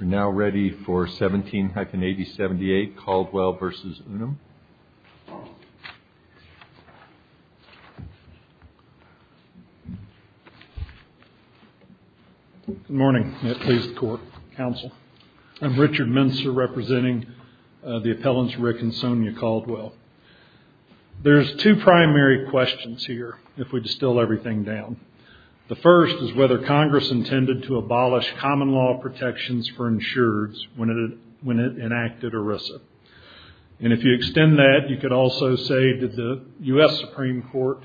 We are now ready for 17-8078, Caldwell v. UNUM. Good morning. I am Richard Minster representing the appellants Rick and Sonia Caldwell. There are two primary questions here if we distill everything down. The first is whether Congress intended to abolish common law protections for insureds when it enacted ERISA. If you extend that, you could also say that the U.S. Supreme Court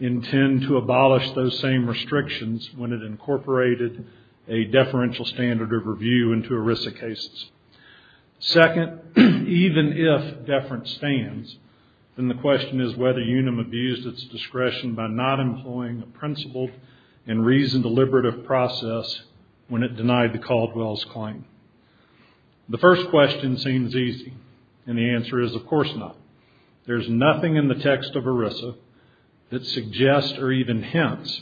intended to abolish those same restrictions when it incorporated a deferential standard of review into ERISA cases. Second, even if deference stands, then the question is whether UNUM abused its discretion by not employing a principled and reasoned deliberative process when it denied the Caldwell's claim. The first question seems easy, and the answer is of course not. There is nothing in the text of ERISA that suggests or even hints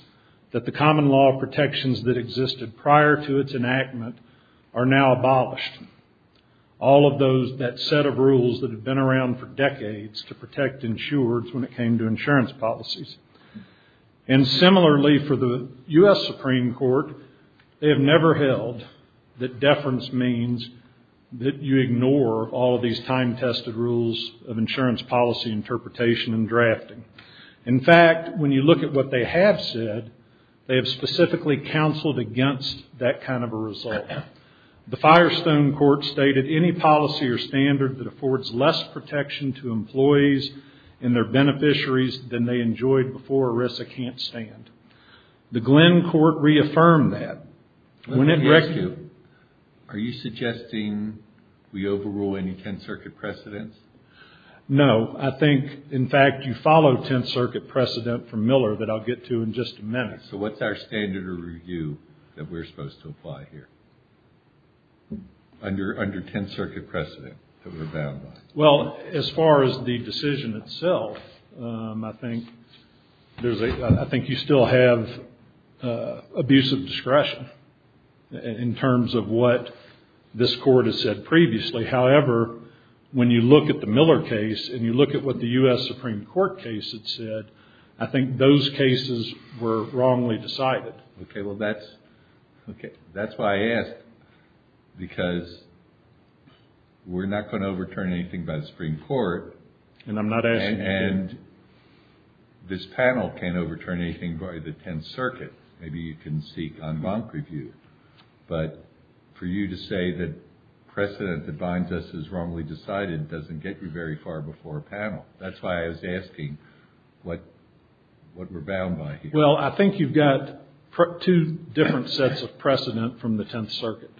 that the common law protections that existed prior to its enactment are now abolished. All of that set of rules that have been around for decades to protect insureds when it came to insurance policies. And similarly for the U.S. Supreme Court, they have never held that deference means that you ignore all of these time-tested rules of insurance policy interpretation and drafting. In fact, when you look at what they have said, they have specifically counseled against that kind of a result. The Firestone Court stated any policy or standard that affords less protection to employees and their beneficiaries than they enjoyed before ERISA can't stand. The Glenn Court reaffirmed that. Let me ask you, are you suggesting we overrule any 10th Circuit precedents? No. I think, in fact, you follow 10th Circuit precedent from Miller that I'll get to in just a minute. So what's our standard of review that we're supposed to apply here under 10th Circuit precedent that we're bound by? Well, as far as the decision itself, I think you still have abusive discretion in terms of what this Court has said previously. However, when you look at the Miller case and you look at what the U.S. Supreme Court case had said, I think those cases were wrongly decided. Okay. Well, that's why I asked, because we're not going to overturn anything by the Supreme Court. And I'm not asking you to. And this panel can't overturn anything by the 10th Circuit. Maybe you can seek en banc review. But for you to say that precedent that binds us is wrongly decided doesn't get you very far before a panel. That's why I was asking what we're bound by here. Well, I think you've got two different sets of precedent from the 10th Circuit.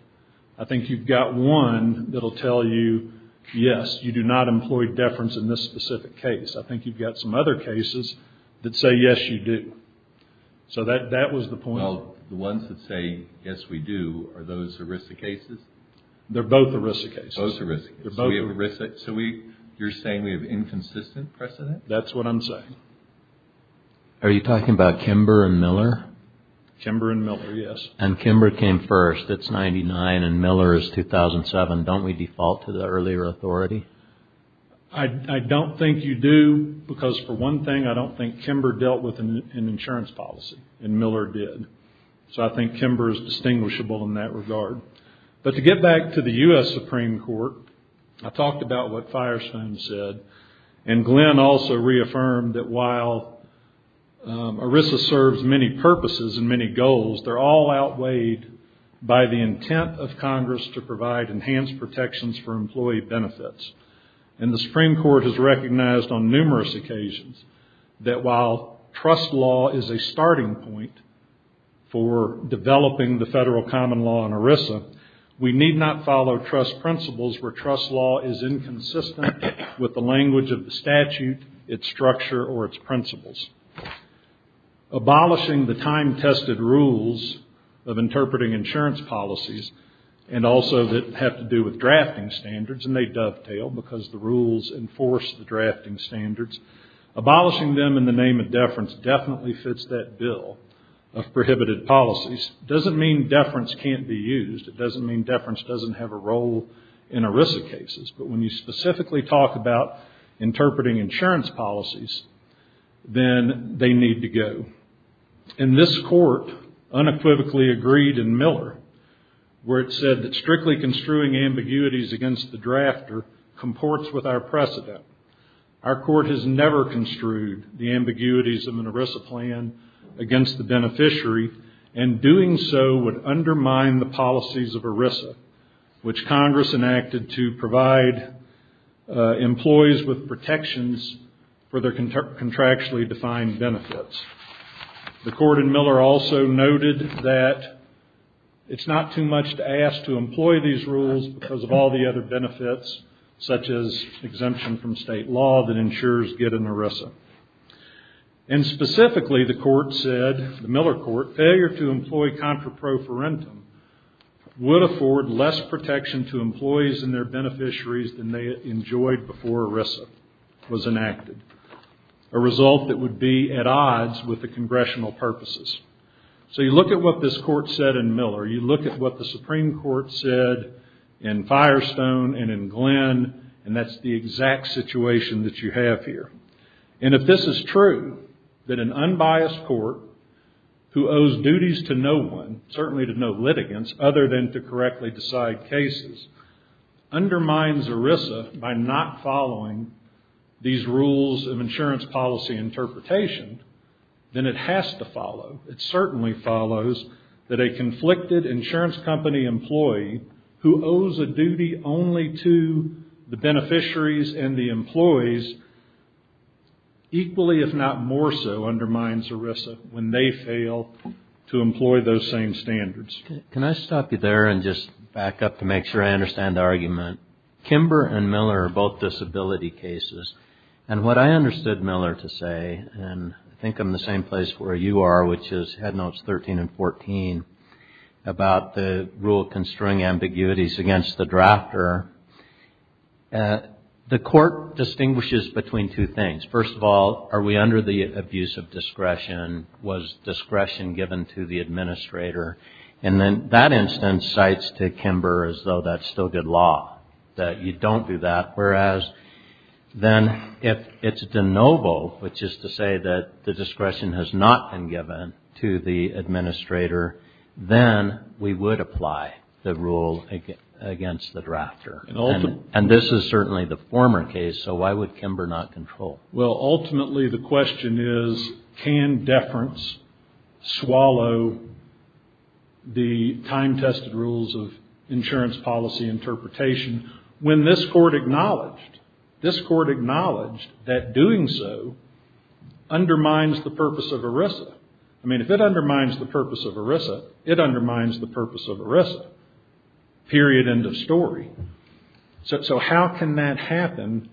I think you've got one that will tell you, yes, you do not employ deference in this specific case. I think you've got some other cases that say, yes, you do. So that was the point. Well, the ones that say, yes, we do, are those ERISA cases? They're both ERISA cases. Both ERISA cases. They're both ERISA. So you're saying we have inconsistent precedent? That's what I'm saying. Are you talking about Kimber and Miller? Kimber and Miller, yes. And Kimber came first. It's 99, and Miller is 2007. Don't we default to the earlier authority? I don't think you do, because for one thing, I don't think Kimber dealt with an insurance policy, and Miller did. So I think Kimber is distinguishable in that regard. But to get back to the U.S. Supreme Court, I talked about what Firestone said, and Glenn also reaffirmed that while ERISA serves many purposes and many goals, they're all outweighed by the intent of Congress to provide enhanced protections for employee benefits. And the Supreme Court has recognized on numerous occasions that while trust law is a starting point for developing the federal common law in ERISA, we need not follow trust principles where trust law is inconsistent with the language of the statute, its structure, or its principles. Abolishing the time-tested rules of interpreting insurance policies, and also that have to do with drafting standards, and they dovetail because the rules enforce the drafting standards, abolishing them in the name of deference definitely fits that bill of prohibited policies. It doesn't mean deference can't be used. It doesn't mean deference doesn't have a role in ERISA cases. But when you specifically talk about interpreting insurance policies, then they need to go. And this court unequivocally agreed in Miller where it said that strictly construing ambiguities against the drafter comports with our precedent. Our court has never construed the ambiguities of an ERISA plan against the beneficiary, and doing so would undermine the policies of ERISA, which Congress enacted to provide employees with protections for their contractually defined benefits. The court in Miller also noted that it's not too much to ask to employ these rules because of all the other benefits, such as exemption from state law that ensures getting ERISA. And specifically, the court said, the Miller court, failure to employ contra pro forentum would afford less protection to employees and their beneficiaries than they enjoyed before ERISA was enacted, a result that would be at odds with the congressional purposes. So you look at what this court said in Miller. You look at what the Supreme Court said in Firestone and in Glenn, and that's the exact situation that you have here. And if this is true, that an unbiased court who owes duties to no one, certainly to no litigants other than to correctly decide cases, undermines ERISA by not following these rules of insurance policy interpretation, then it has to follow. It certainly follows that a conflicted insurance company employee who owes a duty only to the beneficiaries and the employees, equally if not more so undermines ERISA when they fail to employ those same standards. Can I stop you there and just back up to make sure I understand the argument? Kimber and Miller are both disability cases. And what I understood Miller to say, and I think I'm in the same place where you are, which is Headnotes 13 and 14 about the rule constraining ambiguities against the drafter, the court distinguishes between two things. First of all, are we under the abuse of discretion? Was discretion given to the administrator? And then that instance cites to Kimber as though that's still good law, that you don't do that. Then if it's de novo, which is to say that the discretion has not been given to the administrator, then we would apply the rule against the drafter. And this is certainly the former case, so why would Kimber not control? Well, ultimately the question is, can deference swallow the time-tested rules of insurance policy interpretation? When this court acknowledged that doing so undermines the purpose of ERISA. I mean, if it undermines the purpose of ERISA, it undermines the purpose of ERISA. Period. End of story. So how can that happen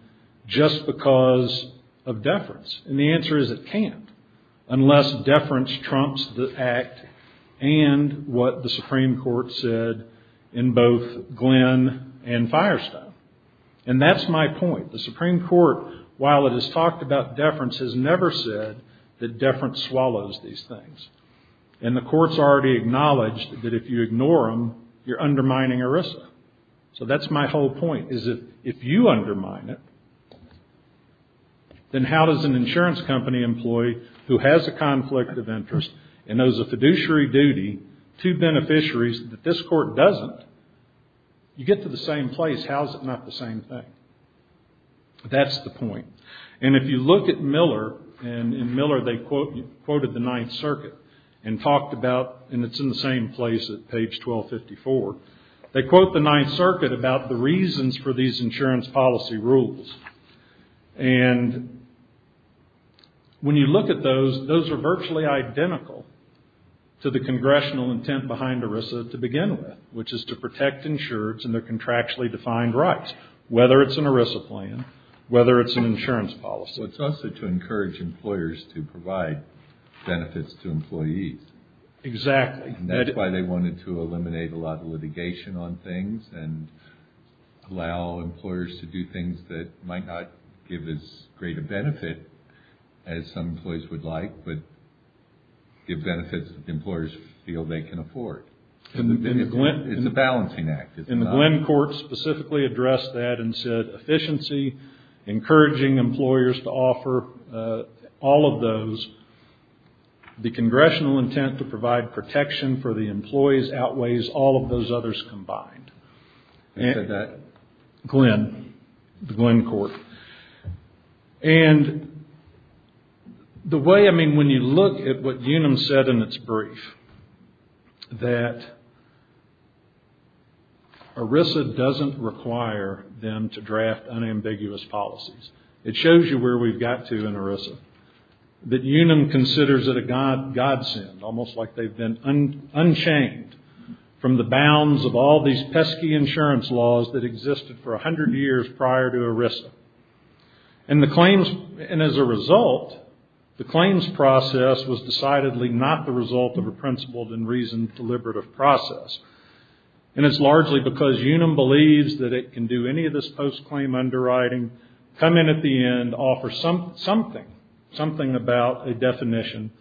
just because of deference? And the answer is it can't, unless deference trumps the act and what the Supreme Court said in both Glenn and Firestone. And that's my point. The Supreme Court, while it has talked about deference, has never said that deference swallows these things. And the court's already acknowledged that if you ignore them, you're undermining ERISA. So that's my whole point, is if you undermine it, then how does an insurance company employee who has a conflict of interest and knows a fiduciary duty to beneficiaries that this court doesn't, you get to the same place. How is it not the same thing? That's the point. And if you look at Miller, and in Miller they quoted the Ninth Circuit and talked about, and it's in the same place at page 1254, they quote the Ninth Circuit about the reasons for these insurance policy rules. And when you look at those, those are virtually identical to the congressional intent behind ERISA to begin with, which is to protect insurers and their contractually defined rights, whether it's an ERISA plan, whether it's an insurance policy. It's also to encourage employers to provide benefits to employees. Exactly. And that's why they wanted to eliminate a lot of litigation on things and allow employers to do things that might not give as great a benefit as some employees would like, but give benefits that employers feel they can afford. It's a balancing act. And the Glenn court specifically addressed that and said efficiency, encouraging employers to offer all of those. The congressional intent to provide protection for the employees outweighs all of those others combined. Who said that? Glenn, the Glenn court. And the way, I mean, when you look at what Unum said in its brief, that ERISA doesn't require them to draft unambiguous policies. It shows you where we've got to in ERISA. That Unum considers it a godsend, almost like they've been unchained from the bounds of all these pesky insurance laws that existed for 100 years prior to ERISA. And as a result, the claims process was decidedly not the result of a principled and reasoned deliberative process. And it's largely because Unum believes that it can do any of this post-claim underwriting, come in at the end, offer something, something about a definition,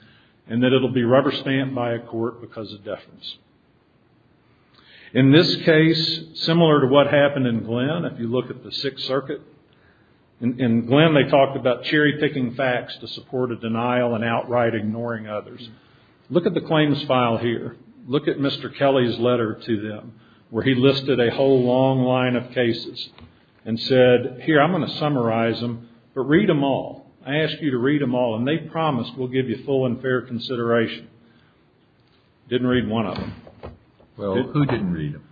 and that it'll be rubber-stamped by a court because of deference. In this case, similar to what happened in Glenn, if you look at the Sixth Circuit, in Glenn they talked about cherry-picking facts to support a denial and outright ignoring others. Look at the claims file here. Look at Mr. Kelly's letter to them where he listed a whole long line of cases and said, here, I'm going to summarize them, but read them all. I ask you to read them all, and they promised we'll give you full and fair consideration. Didn't read one of them. Well, who didn't read them?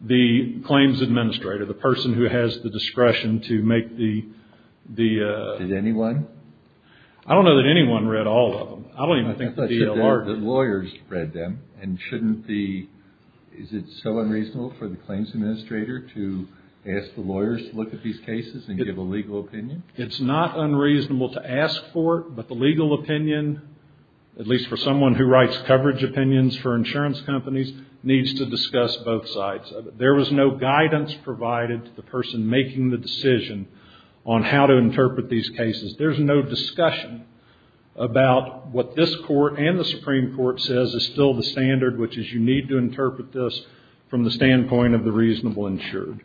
The claims administrator, the person who has the discretion to make the... Did anyone? I don't know that anyone read all of them. I don't even think the DLR did. The lawyers read them, and shouldn't the... and give a legal opinion? It's not unreasonable to ask for it, but the legal opinion, at least for someone who writes coverage opinions for insurance companies, needs to discuss both sides of it. There was no guidance provided to the person making the decision on how to interpret these cases. There's no discussion about what this court and the Supreme Court says is still the standard, which is you need to interpret this from the standpoint of the reasonable insured.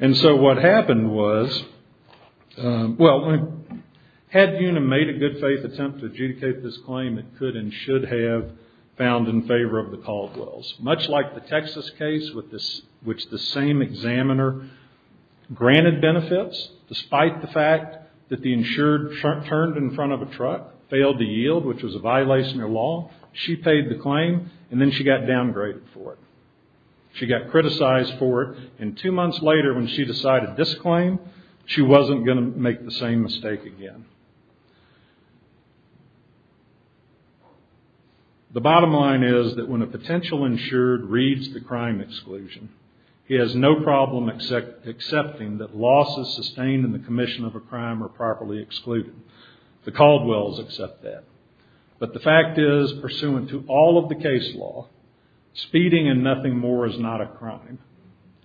And so what happened was... Well, had UNA made a good faith attempt to adjudicate this claim, it could and should have found in favor of the Caldwells. Much like the Texas case, which the same examiner granted benefits, despite the fact that the insured turned in front of a truck, failed to yield, which was a violation of law, she paid the claim, and then she got downgraded for it. She got criticized for it, and two months later when she decided this claim, she wasn't going to make the same mistake again. The bottom line is that when a potential insured reads the crime exclusion, he has no problem accepting that losses sustained in the commission of a crime are properly excluded. The Caldwells accept that. But the fact is, pursuant to all of the case law, speeding and nothing more is not a crime.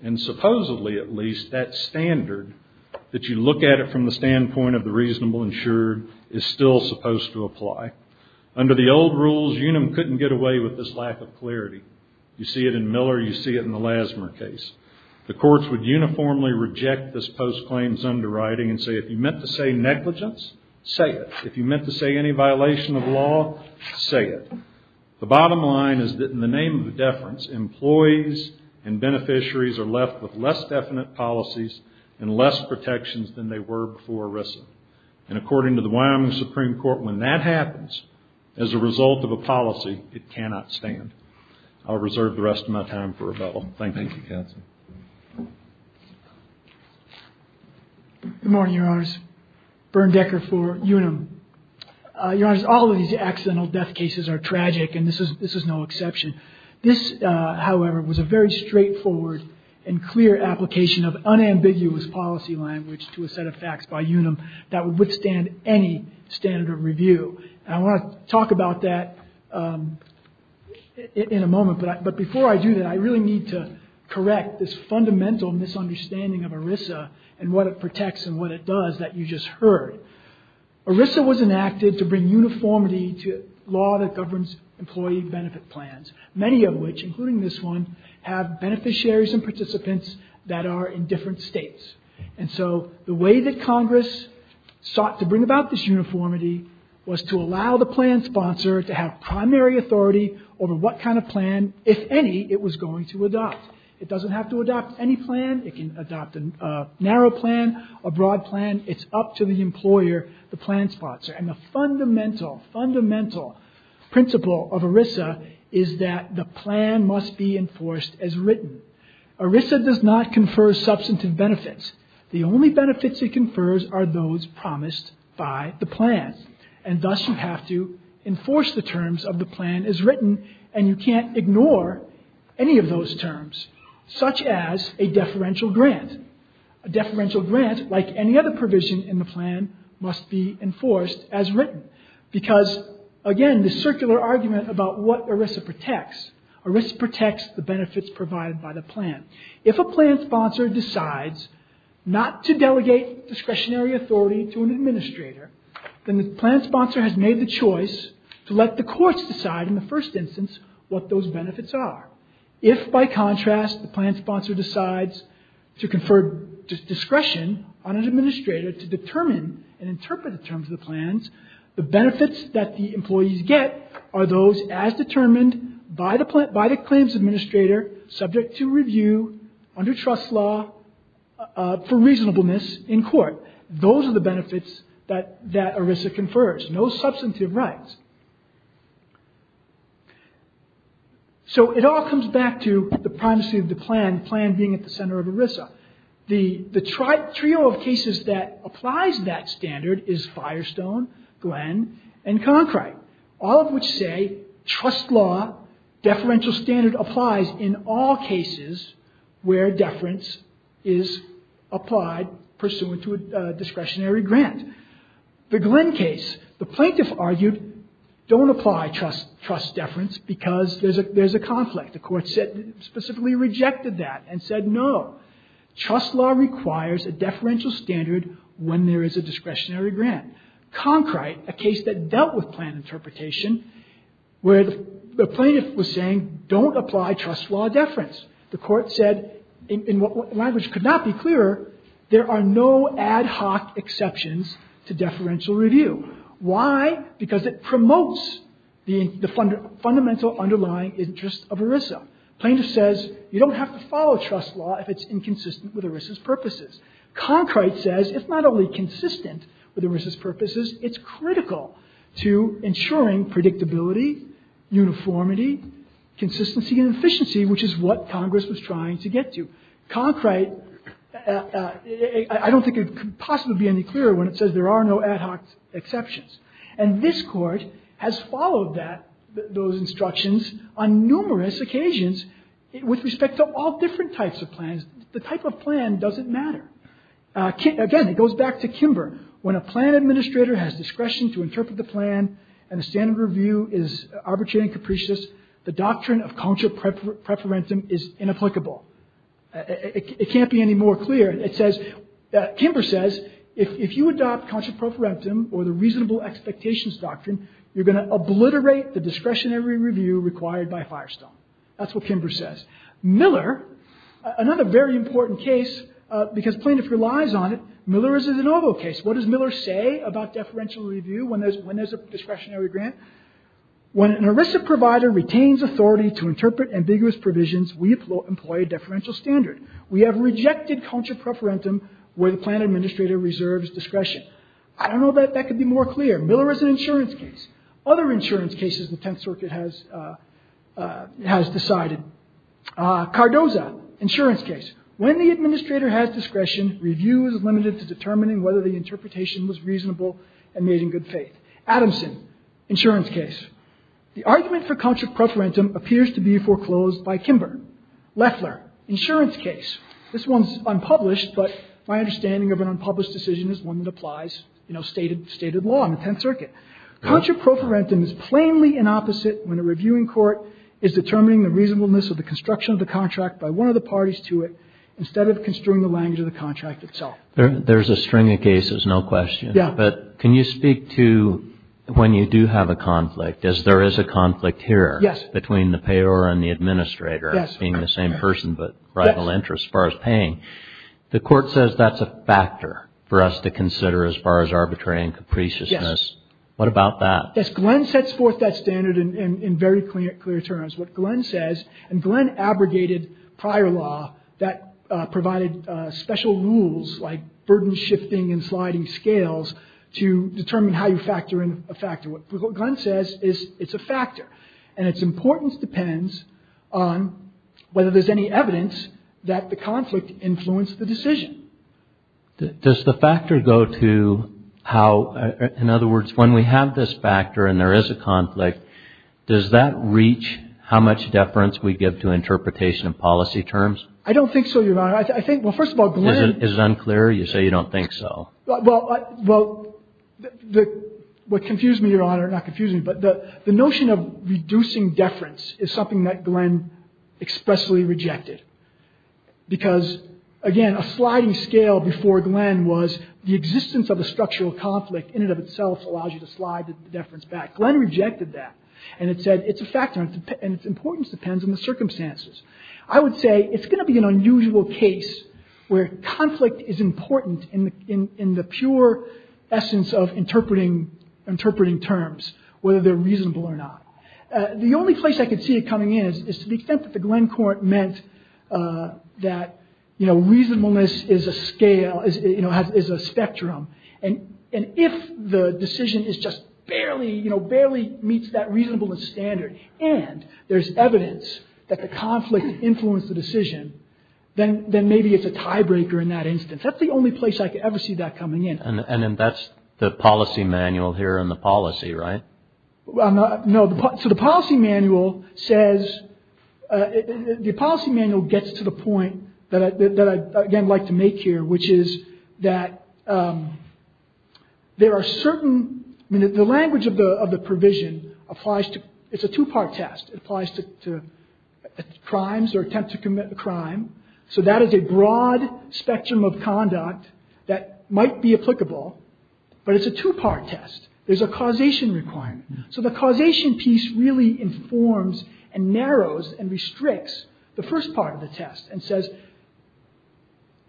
And supposedly, at least, that standard, that you look at it from the standpoint of the reasonable insured, is still supposed to apply. Under the old rules, UNAM couldn't get away with this lack of clarity. You see it in Miller, you see it in the Lassmer case. The courts would uniformly reject this post-claims underwriting and say if you meant to say negligence, say it. If you meant to say any violation of law, say it. The bottom line is that in the name of deference, employees and beneficiaries are left with less definite policies and less protections than they were before ERISA. And according to the Wyoming Supreme Court, when that happens as a result of a policy, it cannot stand. I'll reserve the rest of my time for rebuttal. Thank you, Counsel. Good morning, Your Honors. Bernd Decker for UNAM. Your Honors, all of these accidental death cases are tragic, and this is no exception. This, however, was a very straightforward and clear application of unambiguous policy language to a set of facts by UNAM that would withstand any standard of review. And I want to talk about that in a moment, but before I do that, I really need to correct this fundamental misunderstanding of ERISA and what it protects and what it does that you just heard. ERISA was enacted to bring uniformity to law that governs employee benefit plans, many of which, including this one, have beneficiaries and participants that are in different states. And so the way that Congress sought to bring about this uniformity was to allow the plan sponsor to have primary authority over what kind of plan, if any, it was going to adopt. It doesn't have to adopt any plan. It can adopt a narrow plan, a broad plan. It's up to the employer, the plan sponsor. And the fundamental, fundamental principle of ERISA is that the plan must be enforced as written. ERISA does not confer substantive benefits. The only benefits it confers are those promised by the plan. And thus you have to enforce the terms of the plan as written, and you can't ignore any of those terms, such as a deferential grant. And a deferential grant, like any other provision in the plan, must be enforced as written. Because, again, the circular argument about what ERISA protects, ERISA protects the benefits provided by the plan. If a plan sponsor decides not to delegate discretionary authority to an administrator, then the plan sponsor has made the choice to let the courts decide in the first instance what those benefits are. If, by contrast, the plan sponsor decides to confer discretion on an administrator to determine and interpret the terms of the plans, the benefits that the employees get are those as determined by the claims administrator subject to review under trust law for reasonableness in court. Those are the benefits that ERISA confers. No substantive rights. So it all comes back to the primacy of the plan, the plan being at the center of ERISA. The trio of cases that applies that standard is Firestone, Glenn, and Concrite, all of which say trust law deferential standard applies in all cases where deference is applied pursuant to a discretionary grant. The Glenn case, the plaintiff argued, don't apply trust deference because there's a conflict. The court specifically rejected that and said, no, trust law requires a deferential standard when there is a discretionary grant. Concrite, a case that dealt with plan interpretation, where the plaintiff was saying, don't apply trust law deference. The court said, in what language could not be clearer, there are no ad hoc exceptions to deferential review. Why? Because it promotes the fundamental underlying interest of ERISA. The plaintiff says you don't have to follow trust law if it's inconsistent with ERISA's purposes. Concrite says it's not only consistent with ERISA's purposes, it's critical to ensuring predictability, uniformity, consistency, and efficiency, which is what Congress was trying to get to. Concrite, I don't think it could possibly be any clearer when it says there are no ad hoc exceptions. And this court has followed that, those instructions, on numerous occasions with respect to all different types of plans. The type of plan doesn't matter. Again, it goes back to Kimber. When a plan administrator has discretion to interpret the plan and a standard review is arbitrary and capricious, the doctrine of contra preferentum is inapplicable. It can't be any more clear. Kimber says if you adopt contra preferentum or the reasonable expectations doctrine, you're going to obliterate the discretionary review required by Firestone. That's what Kimber says. Miller, another very important case, because plaintiff relies on it, Miller is a de novo case. What does Miller say about deferential review when there's a discretionary grant? When an ERISA provider retains authority to interpret ambiguous provisions, we employ a deferential standard. We have rejected contra preferentum where the plan administrator reserves discretion. I don't know if that could be more clear. Miller is an insurance case. Other insurance cases the Tenth Circuit has decided. Cardoza, insurance case. When the administrator has discretion, review is limited to determining whether the interpretation was reasonable and made in good faith. Adamson, insurance case. The argument for contra preferentum appears to be foreclosed by Kimber. Leffler, insurance case. This one's unpublished, but my understanding of an unpublished decision is one that applies, you know, stated law in the Tenth Circuit. Contra preferentum is plainly inopposite when a reviewing court is determining the reasonableness of the construction of the contract by one of the parties to it instead of construing the language of the contract itself. There's a string of cases, no question. Yeah. But can you speak to when you do have a conflict, as there is a conflict here between the payer and the administrator, being the same person but rival interests as far as paying, the court says that's a factor for us to consider as far as arbitrary and capriciousness. Yes. What about that? Glenn sets forth that standard in very clear terms. What Glenn says, and Glenn abrogated prior law that provided special rules like burden shifting and sliding scales to determine how you factor in a factor. What Glenn says is it's a factor, and its importance depends on whether there's any evidence that the conflict influenced the decision. Does the factor go to how, in other words, when we have this factor and there is a conflict, does that reach how much deference we give to interpretation of policy terms? I don't think so, Your Honor. I think, well, first of all, Glenn. Is it unclear? You say you don't think so. Well, what confused me, Your Honor, not confused me, but the notion of reducing deference is something that Glenn expressly rejected because, again, a sliding scale before Glenn was the existence of a structural conflict in and of itself allows you to slide the deference back. Glenn rejected that, and it said it's a factor, and its importance depends on the circumstances. I would say it's going to be an unusual case where conflict is important in the pure essence of interpreting terms, whether they're reasonable or not. The only place I could see it coming in is to the extent that the Glenn Court meant that reasonableness is a spectrum, and if the decision just barely meets that reasonableness standard and there's evidence that the conflict influenced the decision, then maybe it's a tiebreaker in that instance. That's the only place I could ever see that coming in. And that's the policy manual here in the policy, right? No. So the policy manual says, the policy manual gets to the point that I'd, again, like to make here, which is that there are certain, the language of the provision applies to, it's a two-part test. It applies to crimes or attempt to commit a crime, so that is a broad spectrum of conduct that might be applicable, but it's a two-part test. There's a causation requirement. So the causation piece really informs and narrows and restricts the first part of the test, and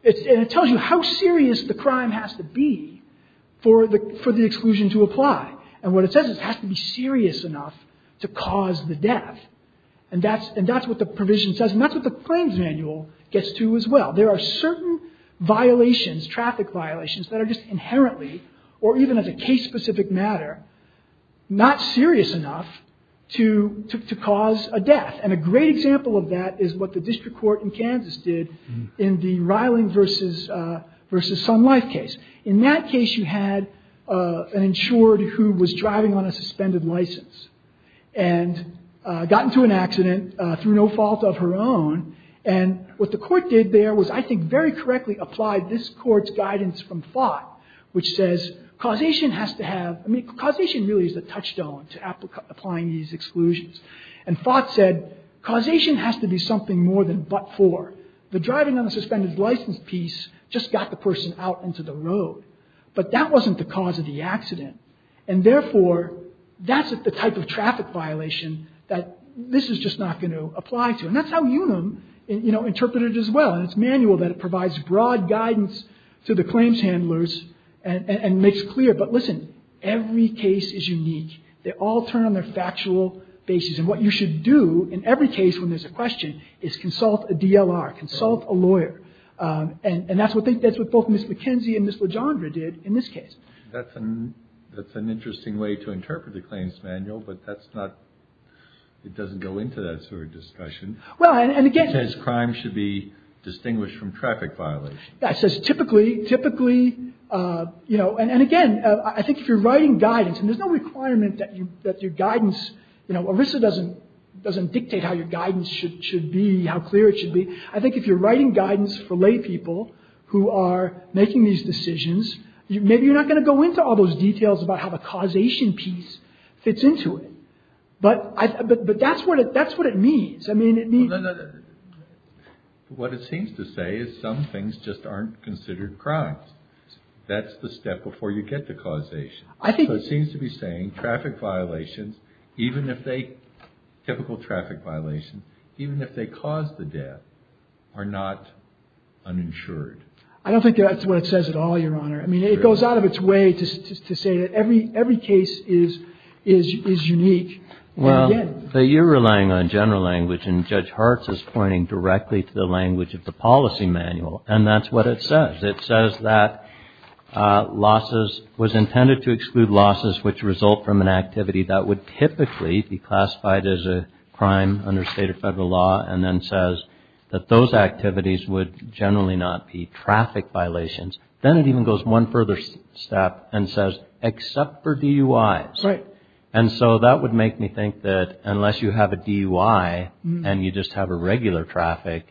it tells you how serious the crime has to be for the exclusion to apply, and what it says is it has to be serious enough to cause the death, and that's what the provision says, and that's what the claims manual gets to as well. There are certain violations, traffic violations, that are just inherently, or even as a case-specific matter, not serious enough to cause a death, and a great example of that is what the district court in Kansas did in the Reiling versus Sun Life case. In that case, you had an insured who was driving on a suspended license and got into an accident through no fault of her own, and what the court did there was, I think, very correctly applied this court's guidance from Fott, which says causation has to have, causation really is the touchstone to applying these exclusions, and Fott said causation has to be something more than but-for. The driving on a suspended license piece just got the person out into the road, but that wasn't the cause of the accident, and therefore, that's the type of traffic violation that this is just not going to apply to, and that's how Unum interpreted it as well, and it's manual that it provides broad guidance to the claims handlers and makes clear, but listen, every case is unique. They all turn on their factual basis, and what you should do in every case when there's a question is consult a DLR, consult a lawyer, and that's what both Ms. McKenzie and Ms. Legendre did in this case. That's an interesting way to interpret the claims manual, but that's not, it doesn't go into that sort of discussion. Well, and again. It says crime should be distinguished from traffic violations. That says typically, typically, you know, and again, I think if you're writing guidance, and there's no requirement that your guidance, you know, ERISA doesn't dictate how your guidance should be, how clear it should be. I think if you're writing guidance for lay people who are making these decisions, maybe you're not going to go into all those details about how the causation piece fits into it, but that's what it means. I mean, it means... What it seems to say is some things just aren't considered crimes. That's the step before you get to causation. So it seems to be saying traffic violations, even if they, typical traffic violations, even if they cause the death, are not uninsured. I don't think that's what it says at all, Your Honor. I mean, it goes out of its way to say that every case is unique. Well, but you're relying on general language, and Judge Hartz is pointing directly to the language of the policy manual, and that's what it says. It says that losses, was intended to exclude losses which result from an activity that would typically be classified as a crime under state or federal law, and then says that those activities would generally not be traffic violations. Then it even goes one further step and says except for DUIs. Right. And so that would make me think that unless you have a DUI and you just have a regular traffic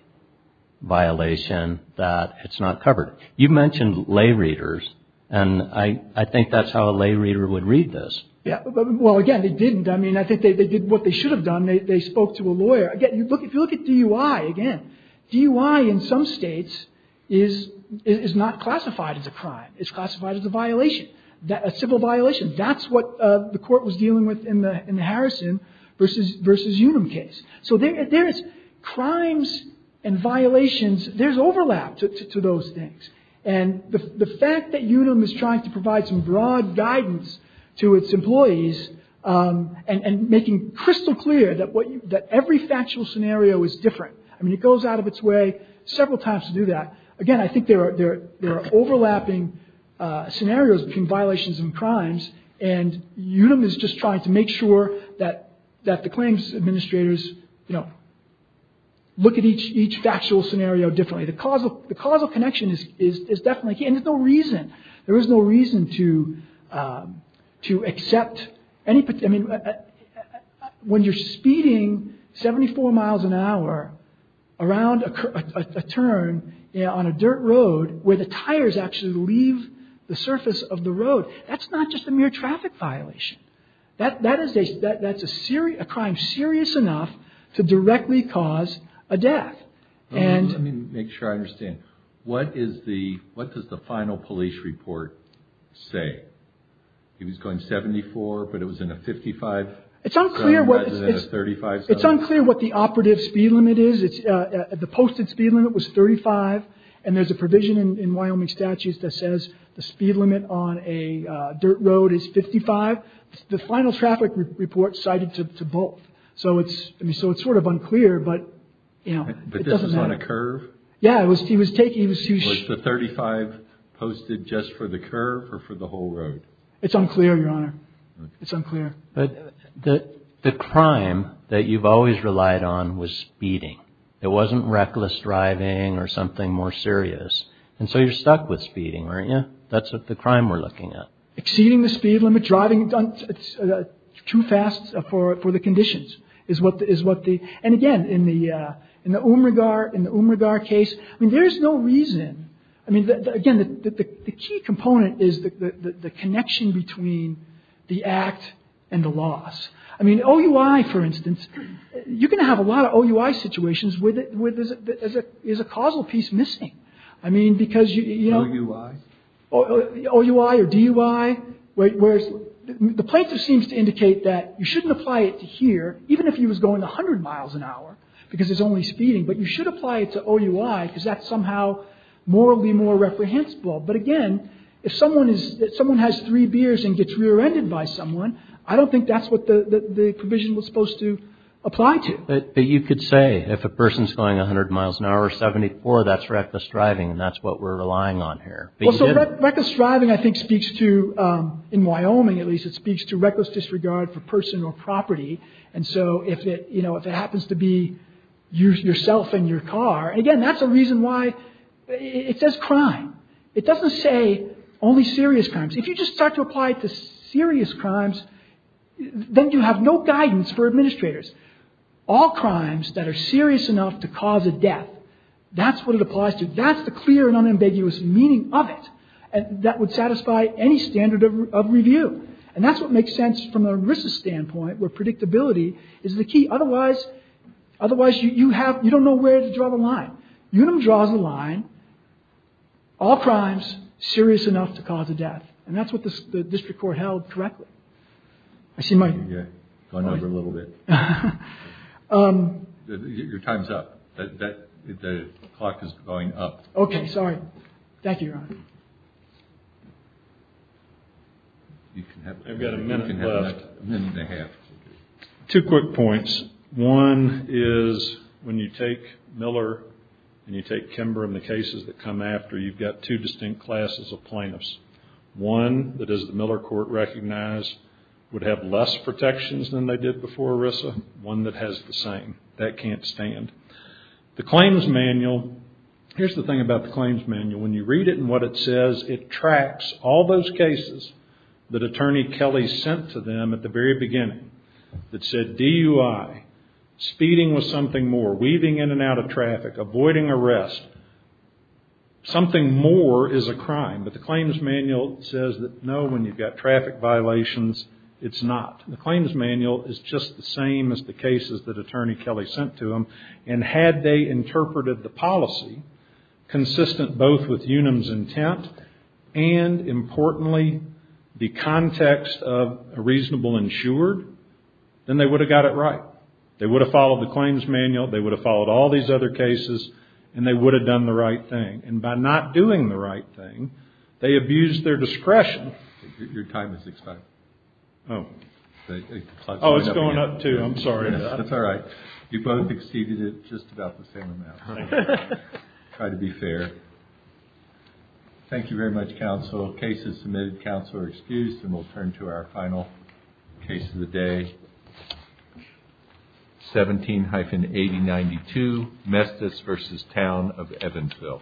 violation that it's not covered. You mentioned lay readers, and I think that's how a lay reader would read this. Well, again, they didn't. I mean, I think they did what they should have done. They spoke to a lawyer. Again, if you look at DUI, again, DUI in some states is not classified as a crime. It's classified as a violation, a civil violation. That's what the court was dealing with in the Harrison versus Unum case. So there is crimes and violations. There's overlap to those things, and the fact that Unum is trying to provide some broad guidance to its employees and making crystal clear that every factual scenario is different. I mean, it goes out of its way several times to do that. Again, I think there are overlapping scenarios between violations and crimes, and Unum is just trying to make sure that the claims administrators look at each factual scenario differently. The causal connection is definitely key, and there's no reason. I mean, when you're speeding 74 miles an hour around a turn on a dirt road where the tires actually leave the surface of the road, that's not just a mere traffic violation. That's a crime serious enough to directly cause a death. Let me make sure I understand. What does the final police report say? He was going 74, but it was in a 55. It's unclear what the operative speed limit is. The posted speed limit was 35, and there's a provision in Wyoming statutes that says the speed limit on a dirt road is 55. The final traffic report cited to both. So it's sort of unclear, but it doesn't matter. But this is on a curve? Yeah, it was. He was taking the 35 posted just for the curve or for the whole road. It's unclear, Your Honor. It's unclear. But the crime that you've always relied on was speeding. It wasn't reckless driving or something more serious. And so you're stuck with speeding, aren't you? That's what the crime we're looking at. Exceeding the speed limit driving too fast for the conditions is what is what the and again in the in the case. I mean, there's no reason. I mean, again, the key component is the connection between the act and the loss. I mean, OUI, for instance, you're going to have a lot of OUI situations where there is a causal piece missing. I mean, because you know, OUI or DUI, whereas the plaintiff seems to indicate that you shouldn't apply it to here, even if he was going 100 miles an hour because it's only speeding. But you should apply it to OUI because that's somehow morally more reprehensible. But again, if someone has three beers and gets rear-ended by someone, I don't think that's what the provision was supposed to apply to. But you could say, if a person's going 100 miles an hour or 74, that's reckless driving and that's what we're relying on here. Reckless driving, I think, speaks to in Wyoming, at least, it speaks to reckless disregard for personal property. And so, if it happens to be yourself and your car, again, that's a reason why it says crime. It doesn't say only serious crimes. If you just start to apply it to serious crimes, then you have no guidance for administrators. All crimes that are serious enough to cause a death, that's what it applies to. That's the clear and unambiguous meaning of it that would satisfy any standard of review. And that's what makes sense from an ERISA standpoint where predictability is the key. Otherwise, you don't know where to draw the line. UNUM draws the line, all crimes serious enough to cause a death. And that's what the district court held correctly. I see Mike. Going over a little bit. Your time's up. The clock is going up. Okay, sorry. Thank you, Your Honor. I've got a minute left. Two quick points. One is when you take Miller and you take Kimber and the cases that come after, you've got two distinct classes of plaintiffs. One that, as the Miller court recognized, would have less protections than they did before ERISA. One that has the same. That can't stand. The claims manual, here's the thing about the claims manual. When you read it and what it says, it tracks all those cases that Attorney Kelly sent to them at the very beginning that said DUI, speeding was something more, weaving in and out of traffic, avoiding arrest. Something more is a crime. But the claims manual says that no, when you've got traffic violations, it's not. The claims manual is just the same as the cases that Attorney Kelly sent to them. And had they interpreted the policy consistent both with UNUM's intent and, importantly, the context of a reasonable insured, then they would have got it right. They would have followed the claims manual. They would have followed all these other cases. And they would have done the right thing. And by not doing the right thing, they abused their discretion. Your time is expired. Oh. Oh, it's going up too. I'm sorry about that. That's all right. You both exceeded it just about the same amount. Try to be fair. Thank you very much, counsel. Both cases submitted, counsel are excused, and we'll turn to our final case of the day, 17-8092, Mestis v. Town of Evansville.